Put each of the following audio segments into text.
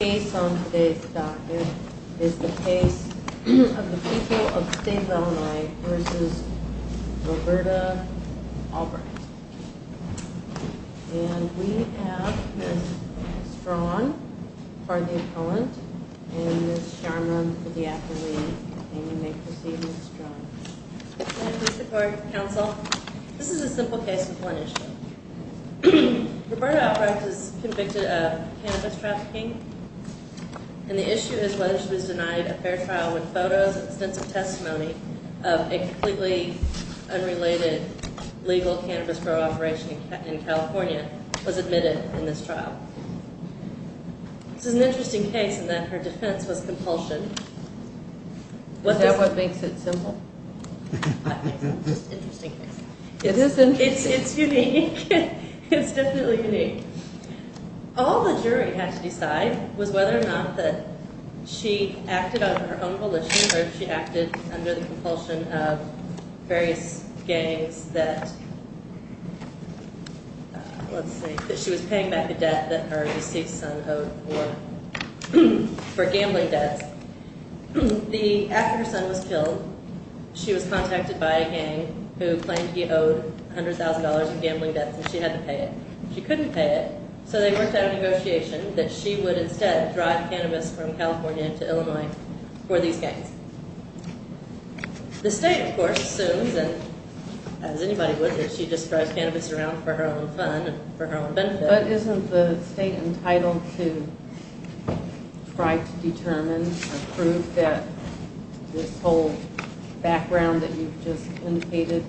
The case on today's docket is the case of the people of Staten Illinois v. Roberta Albrecht. And we have Ms. Straughn for the opponent and Ms. Sharma for the athlete. And you may proceed, Ms. Straughn. Thank you, Mr. Clerk, Counsel. This is a simple case with one issue. Roberta Albrecht is convicted of cannabis trafficking, and the issue is whether she was denied a fair trial with photos and extensive testimony of a completely unrelated legal cannabis grow operation in California was admitted in this trial. This is an interesting case in that her defense was compulsion. Is that what makes it simple? It's an interesting case. It's unique. It's definitely unique. All the jury had to decide was whether or not that she acted out of her own volition or if she acted under the compulsion of various gangs that, let's see, that she was paying back a debt that her deceased son owed for gambling debts. After her son was killed, she was contacted by a gang who claimed he owed $100,000 in gambling debts and she had to pay it. She couldn't pay it, so they worked out a negotiation that she would instead drive cannabis from California to Illinois for these gangs. The state, of course, assumes, and as anybody would, that she just drives cannabis around for her own fun and for her own benefit. But isn't the state entitled to try to determine or prove that this whole background that you've just indicated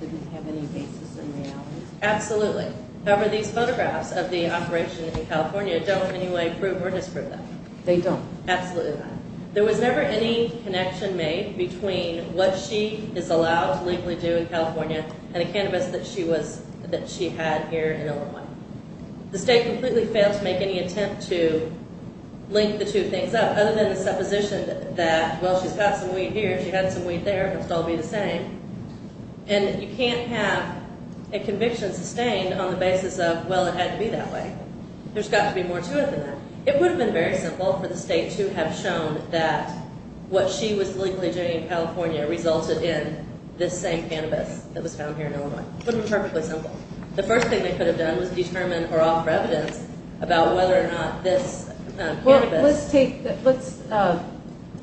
didn't have any basis in reality? Absolutely. However, these photographs of the operation in California don't in any way prove or disprove that. They don't? Absolutely not. There was never any connection made between what she is allowed to legally do in California and the cannabis that she had here in Illinois. The state completely failed to make any attempt to link the two things up, other than the supposition that, well, she's got some weed here, she had some weed there, it must all be the same. And you can't have a conviction sustained on the basis of, well, it had to be that way. There's got to be more to it than that. It would have been very simple for the state to have shown that what she was legally doing in California resulted in this same cannabis that was found here in Illinois. It would have been perfectly simple. The first thing they could have done was determine or offer evidence about whether or not this cannabis Well, let's take that. Let's, I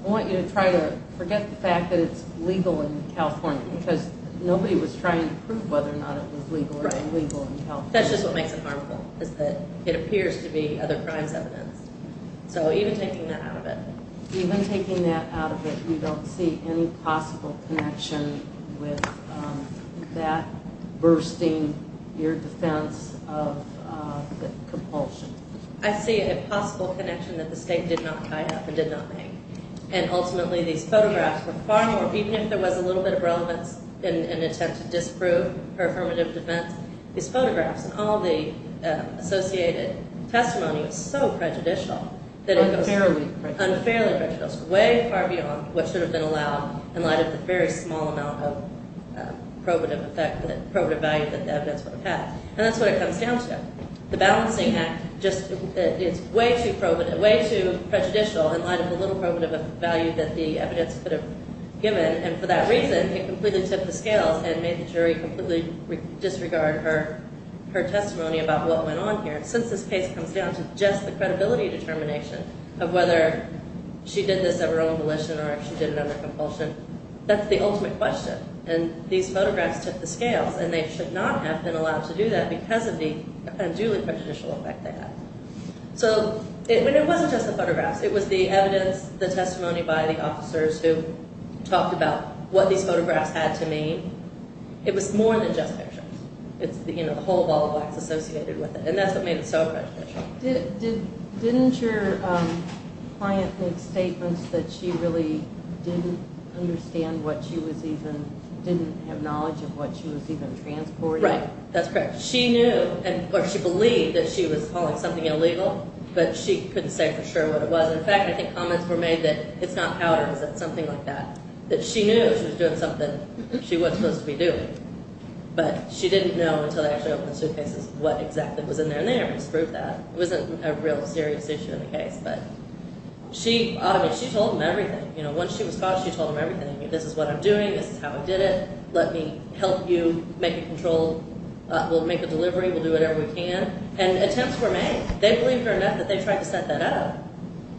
want you to try to forget the fact that it's legal in California because nobody was trying to prove whether or not it was legal or illegal in California. Right. That's just what makes it harmful is that it appears to be other crimes evidence. So even taking that out of it. Even taking that out of it, we don't see any possible connection with that bursting your defense of compulsion. I see a possible connection that the state did not tie up and did not make. And ultimately these photographs were far more, even if there was a little bit of relevance in an attempt to disprove her affirmative defense, these photographs and all the associated testimony was so prejudicial. Unfairly prejudicial. Unfairly prejudicial. Way far beyond what should have been allowed in light of the very small amount of probative effect, probative value that the evidence would have had. And that's what it comes down to. The balancing act just, it's way too probative, way too prejudicial in light of the little probative value that the evidence could have given. And for that reason, it completely tipped the scales and made the jury completely disregard her testimony about what went on here. Since this case comes down to just the credibility determination of whether she did this at her own volition or if she did it under compulsion, that's the ultimate question. And these photographs tipped the scales and they should not have been allowed to do that because of the unduly prejudicial effect they had. So it wasn't just the photographs. It was the evidence, the testimony by the officers who talked about what these photographs had to mean. It was more than just pictures. It's the whole ball of wax associated with it. And that's what made it so prejudicial. Didn't your client make statements that she really didn't understand what she was even, didn't have knowledge of what she was even transporting? Right, that's correct. She knew or she believed that she was hauling something illegal, but she couldn't say for sure what it was. In fact, I think comments were made that it's not powder, it's something like that, that she knew she was doing something she wasn't supposed to be doing. But she didn't know until they actually opened the suitcases what exactly was in there, and they already disproved that. It wasn't a real serious issue in the case, but she told them everything. Once she was caught, she told them everything. This is what I'm doing. This is how I did it. Let me help you make a control. We'll make a delivery. We'll do whatever we can. And attempts were made. They believed her enough that they tried to set that up.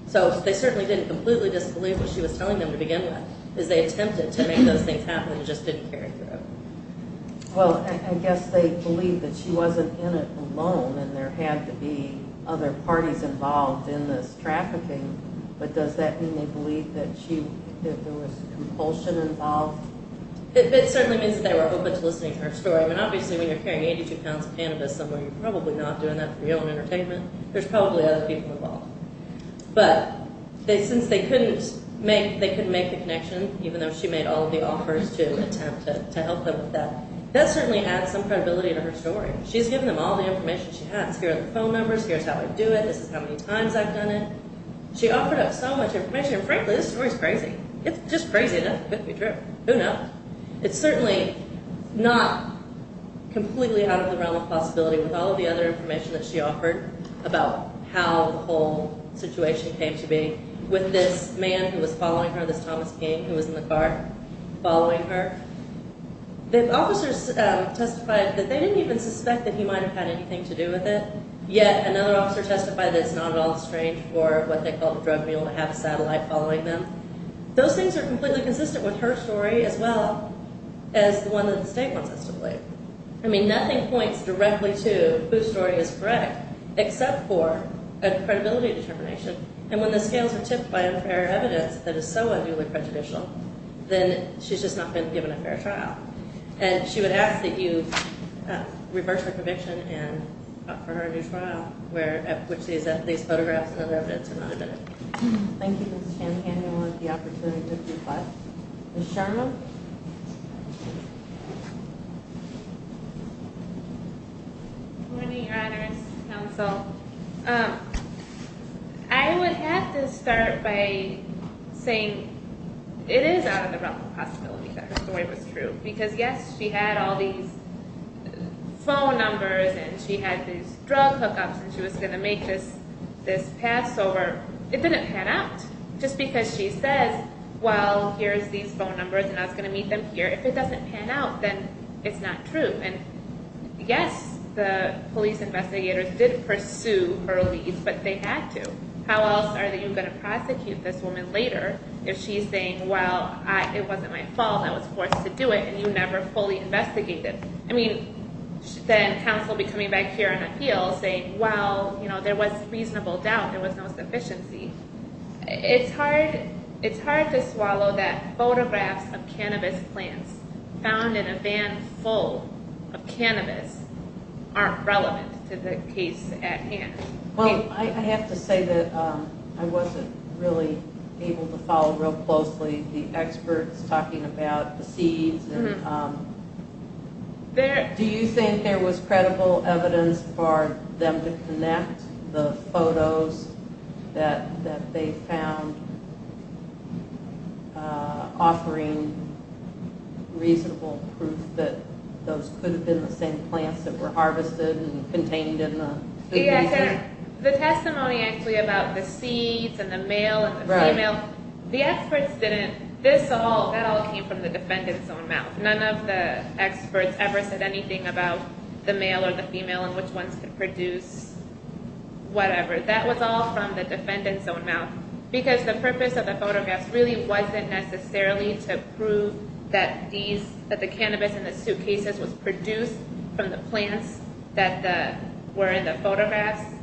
So they certainly didn't completely disbelieve what she was telling them to begin with is they attempted to make those things happen and just didn't carry through. Well, I guess they believed that she wasn't in it alone and there had to be other parties involved in this trafficking, but does that mean they believed that there was compulsion involved? It certainly means that they were open to listening to her story. I mean, obviously, when you're carrying 82 pounds of cannabis somewhere, you're probably not doing that for your own entertainment. There's probably other people involved. But since they couldn't make the connection, even though she made all of the offers to attempt to help them with that, that certainly adds some credibility to her story. She's given them all the information she has. Here are the phone numbers. Here's how I do it. This is how many times I've done it. She offered up so much information, and frankly, this story's crazy. It's just crazy enough. It couldn't be true. Who knows? It's certainly not completely out of the realm of possibility with all of the other information that she offered about how the whole situation came to be with this man who was following her, this Thomas King who was in the car following her. The officers testified that they didn't even suspect that he might have had anything to do with it, yet another officer testified that it's not at all strange for what they called the drug mule to have a satellite following them. Those things are completely consistent with her story as well as the one that the state wants us to believe. I mean, nothing points directly to whose story is correct except for a credibility determination. And when the scales are tipped by unfair evidence that is so unduly prejudicial, then she's just not been given a fair trial. And she would ask that you reverse her conviction and offer her a new trial at which these photographs and other evidence are not admitted. Thank you, Ms. Shanahan. I want the opportunity to request Ms. Sharma. Good morning, Your Honors, Counsel. I would have to start by saying it is out of the realm of possibility that her story was true because, yes, she had all these phone numbers and she had these drug hookups and she was going to make this pass over. It didn't pan out just because she says, well, here's these phone numbers and I was going to meet them here. If it doesn't pan out, then it's not true. And, yes, the police investigators did pursue her release, but they had to. How else are you going to prosecute this woman later if she's saying, well, it wasn't my fault, I was forced to do it, and you never fully investigated? I mean, then counsel would be coming back here on appeal saying, well, there was reasonable doubt, there was no sufficiency. It's hard to swallow that photographs of cannabis plants found in a van full of cannabis aren't relevant to the case at hand. Well, I have to say that I wasn't really able to follow real closely the experts talking about the seeds. Do you think there was credible evidence for them to connect the photos that they found offering reasonable proof that those could have been the same plants that were harvested and contained in the food basin? The testimony actually about the seeds and the male and the female, the experts didn't. That all came from the defendant's own mouth. That was all from the defendant's own mouth, because the purpose of the photographs really wasn't necessarily to prove that the cannabis in the suitcases was produced from the plants that were in the photographs,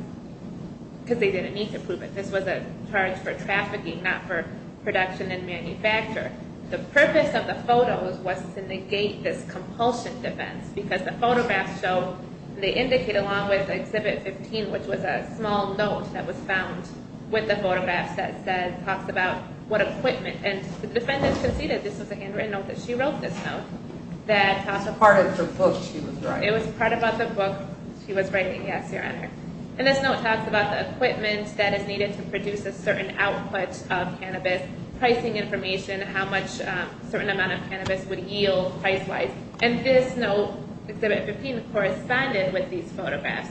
because they didn't need to prove it. This was a charge for trafficking, not for production and manufacture. The purpose of the photos was to negate this compulsion defense, because the photographs show, they indicate along with Exhibit 15, which was a small note that was found with the photographs, that talks about what equipment. And the defendant conceded this was a handwritten note that she wrote this note. It was part of the book she was writing. It was part of the book she was writing, yes, Your Honor. And this note talks about the equipment that is needed to produce a certain output of cannabis, pricing information, how much a certain amount of cannabis would yield price-wise. And this note, Exhibit 15, corresponded with these photographs.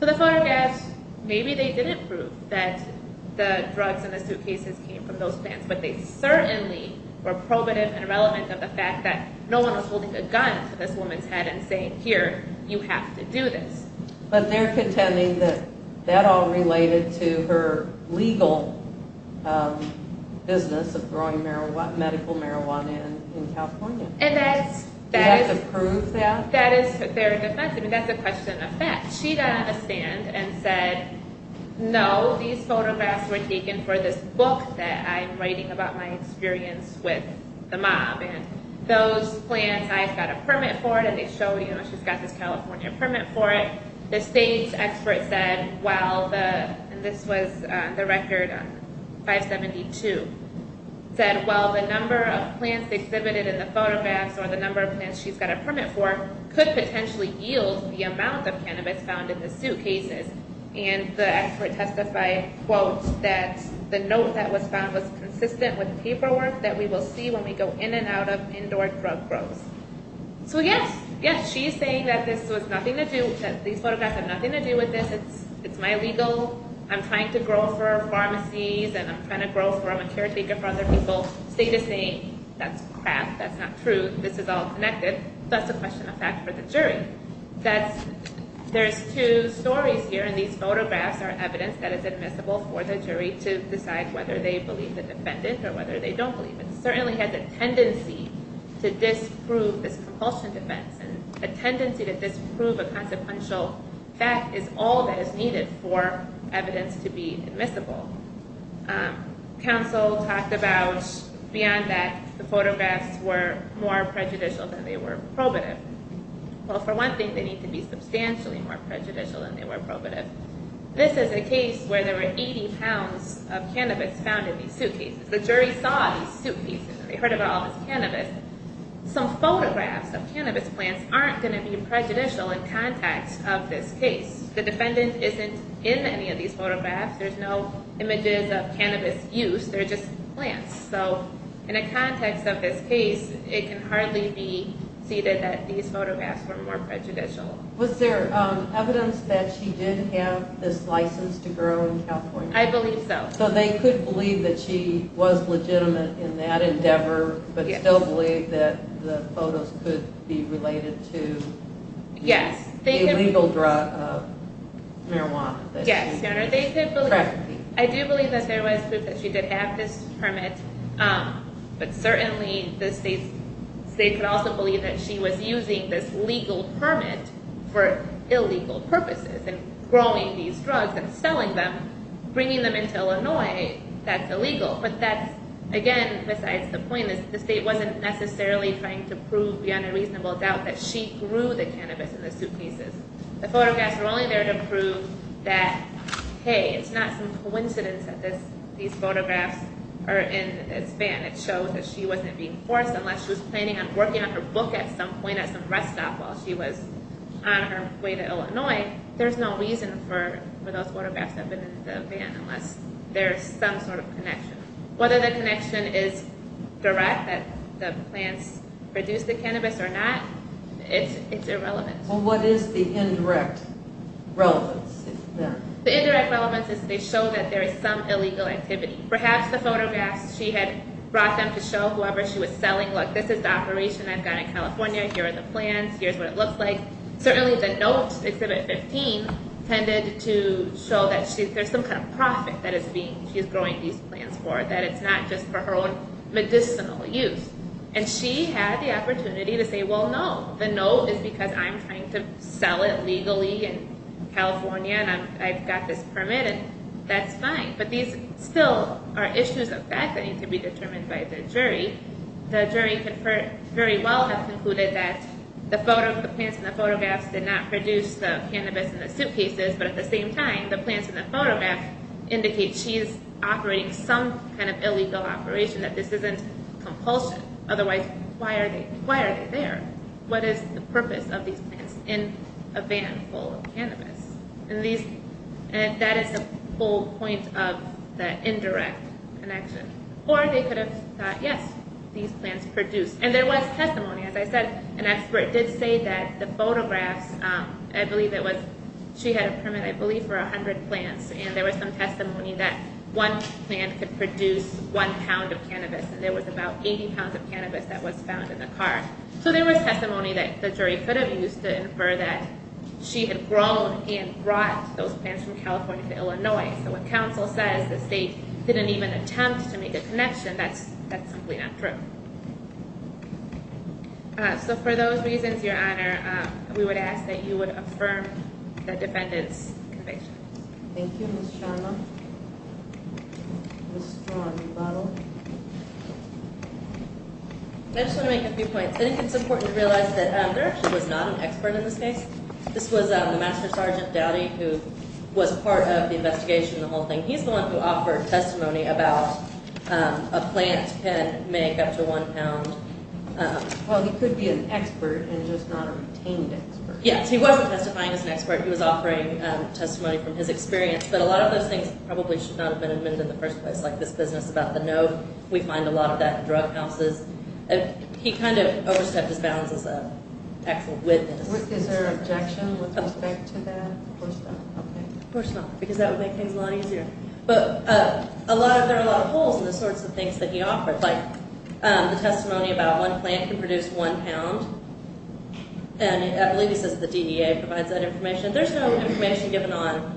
So the photographs, maybe they didn't prove that the drugs in the suitcases came from those plants, but they certainly were probative and relevant of the fact that no one was holding a gun to this woman's head and saying, here, you have to do this. But they're contending that that all related to her legal business of growing medical marijuana in California. And that is their defense. I mean, that's a question of fact. She got on the stand and said, no, these photographs were taken for this book that I'm writing about my experience with the mob. And those plants, I've got a permit for it, and they showed, you know, she's got this California permit for it. The state's expert said, well, the, and this was the record, 572, said, well, the number of plants exhibited in the photographs or the number of plants she's got a permit for could potentially yield the amount of cannabis found in the suitcases. And the expert testified, quote, that the note that was found was consistent with paperwork that we will see when we go in and out of indoor drug growths. So yes, yes, she's saying that this was nothing to do, that these photographs have nothing to do with this, it's my legal, I'm trying to grow for pharmacies, and I'm trying to grow for, I'm a caretaker for other people. The state is saying, that's crap, that's not true, this is all connected. That's a question of fact for the jury. That's, there's two stories here, and these photographs are evidence that is admissible for the jury to decide whether they believe the defendant or whether they don't believe it. It certainly has a tendency to disprove this compulsion defense, and a tendency to disprove a consequential fact is all that is needed for evidence to be admissible. Counsel talked about, beyond that, the photographs were more prejudicial than they were probative. Well, for one thing, they need to be substantially more prejudicial than they were probative. This is a case where there were 80 pounds of cannabis found in these suitcases. The jury saw these suitcases, and they heard about all this cannabis. Some photographs of cannabis plants aren't going to be prejudicial in context of this case. The defendant isn't in any of these photographs. There's no images of cannabis use. They're just plants. So in a context of this case, it can hardly be ceded that these photographs were more prejudicial. Was there evidence that she did have this license to grow in California? I believe so. So they could believe that she was legitimate in that endeavor, but still believe that the photos could be related to the illegal drug marijuana that she was using. Yes, Your Honor. I do believe that there was proof that she did have this permit, but certainly the state could also believe that she was using this legal permit for illegal purposes and growing these drugs and selling them, bringing them into Illinois, that's illegal. But that's, again, besides the point is the state wasn't necessarily trying to prove beyond a reasonable doubt that she grew the cannabis in the suitcases. The photographs were only there to prove that, hey, it's not some coincidence that these photographs are in this van. It shows that she wasn't being forced. Unless she was planning on working on her book at some point at some rest stop while she was on her way to Illinois, there's no reason for those photographs to have been in the van unless there's some sort of connection. Whether the connection is direct, that the plants produce the cannabis or not, it's irrelevant. Well, what is the indirect relevance? The indirect relevance is they show that there is some illegal activity. Perhaps the photographs she had brought them to show whoever she was selling, look, this is the operation I've got in California. Here are the plants. Here's what it looks like. Certainly the note, Exhibit 15, tended to show that there's some kind of profit that she's growing these plants for, that it's not just for her own medicinal use. And she had the opportunity to say, well, no, the no is because I'm trying to sell it legally in California and I've got this permit and that's fine. But these still are issues of fact that need to be determined by the jury. The jury could very well have concluded that the plants in the photographs did not produce the cannabis in the suitcases, but at the same time, the plants in the photograph indicate she's operating some kind of illegal operation, that this isn't compulsion. Otherwise, why are they there? What is the purpose of these plants in a van full of cannabis? And that is the whole point of that indirect connection. Or they could have thought, yes, these plants produce. And there was testimony, as I said, an expert did say that the photographs, I believe it was she had a permit, I believe, for 100 plants, and there was some testimony that one plant could produce one pound of cannabis and there was about 80 pounds of cannabis that was found in the car. So there was testimony that the jury could have used to infer that she had grown and brought those plants from California to Illinois. So what counsel says, the state didn't even attempt to make a connection, that's simply not true. So for those reasons, Your Honor, we would ask that you would affirm the defendant's conviction. Thank you, Ms. Sharma. Ms. Strawn, rebuttal. I just want to make a few points. I think it's important to realize that there actually was not an expert in this case. This was Master Sergeant Dowdy who was part of the investigation of the whole thing. He's the one who offered testimony about a plant can make up to one pound. Well, he could be an expert and just not a retained expert. Yes, he wasn't testifying as an expert. He was offering testimony from his experience. But a lot of those things probably should not have been admitted in the first place, like this business about the note. We find a lot of that in drug houses. He kind of overstepped his bounds as an actual witness. Is there an objection with respect to that? Of course not, because that would make things a lot easier. But there are a lot of holes in the sorts of things that he offered, like the testimony about one plant can produce one pound. And I believe he says the DEA provides that information. There's no information given on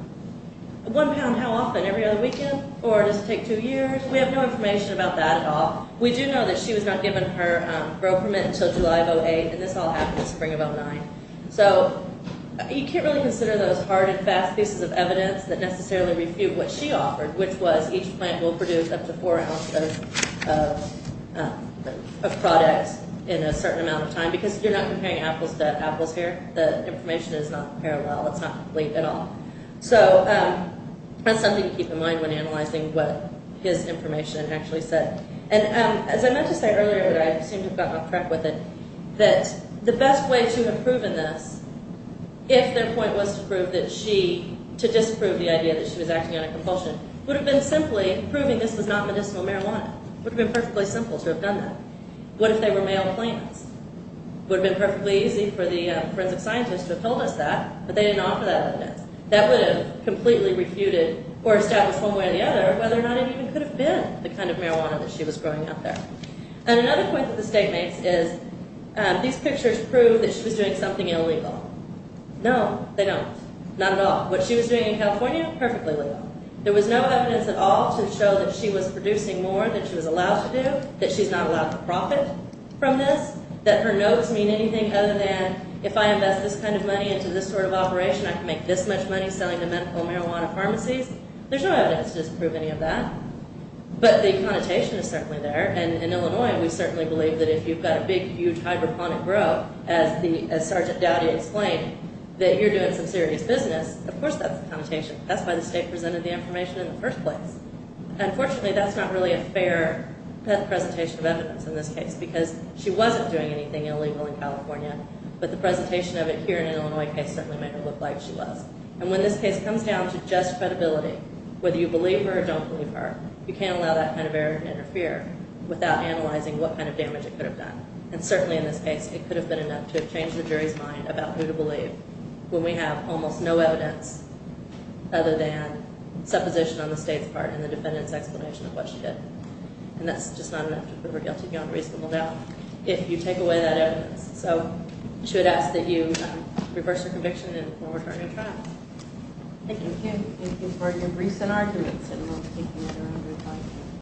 one pound how often, every other weekend, or does it take two years? We have no information about that at all. We do know that she was not given her grow permit until July of 2008, and this all happened in the spring of 2009. So you can't really consider those hard and fast pieces of evidence that necessarily refute what she offered, which was each plant will produce up to four ounces of products in a certain amount of time, because you're not comparing apples to apples here. The information is not parallel. It's not complete at all. So that's something to keep in mind when analyzing what his information actually said. And as I meant to say earlier, but I seem to have gotten off track with it, that the best way to have proven this, if their point was to disprove the idea that she was acting on a compulsion, would have been simply proving this was not medicinal marijuana. It would have been perfectly simple to have done that. What if they were male plants? It would have been perfectly easy for the forensic scientist to have told us that, but they didn't offer that evidence. That would have completely refuted or established one way or the other whether or not it even could have been the kind of marijuana that she was growing out there. And another point that the state makes is these pictures prove that she was doing something illegal. No, they don't. Not at all. What she was doing in California, perfectly legal. There was no evidence at all to show that she was producing more than she was allowed to do, that she's not allowed to profit from this, that her notes mean anything other than, if I invest this kind of money into this sort of operation, I can make this much money selling to medical marijuana pharmacies. There's no evidence to disprove any of that. But the connotation is certainly there, and in Illinois we certainly believe that if you've got a big, huge hydroponic grove, as Sergeant Dowdy explained, that you're doing some serious business, of course that's a connotation. That's why the state presented the information in the first place. Unfortunately, that's not really a fair presentation of evidence in this case because she wasn't doing anything illegal in California, but the presentation of it here in an Illinois case certainly made her look like she was. And when this case comes down to just credibility, whether you believe her or don't believe her, you can't allow that kind of error to interfere without analyzing what kind of damage it could have done. And certainly in this case, it could have been enough to have changed the jury's mind about who to believe when we have almost no evidence other than supposition on the state's part and the defendant's explanation of what she did. And that's just not enough to prove her guilty beyond reasonable doubt if you take away that evidence. So I should ask that you reverse your conviction and forward her to trial. Thank you. Thank you for your briefs and arguments.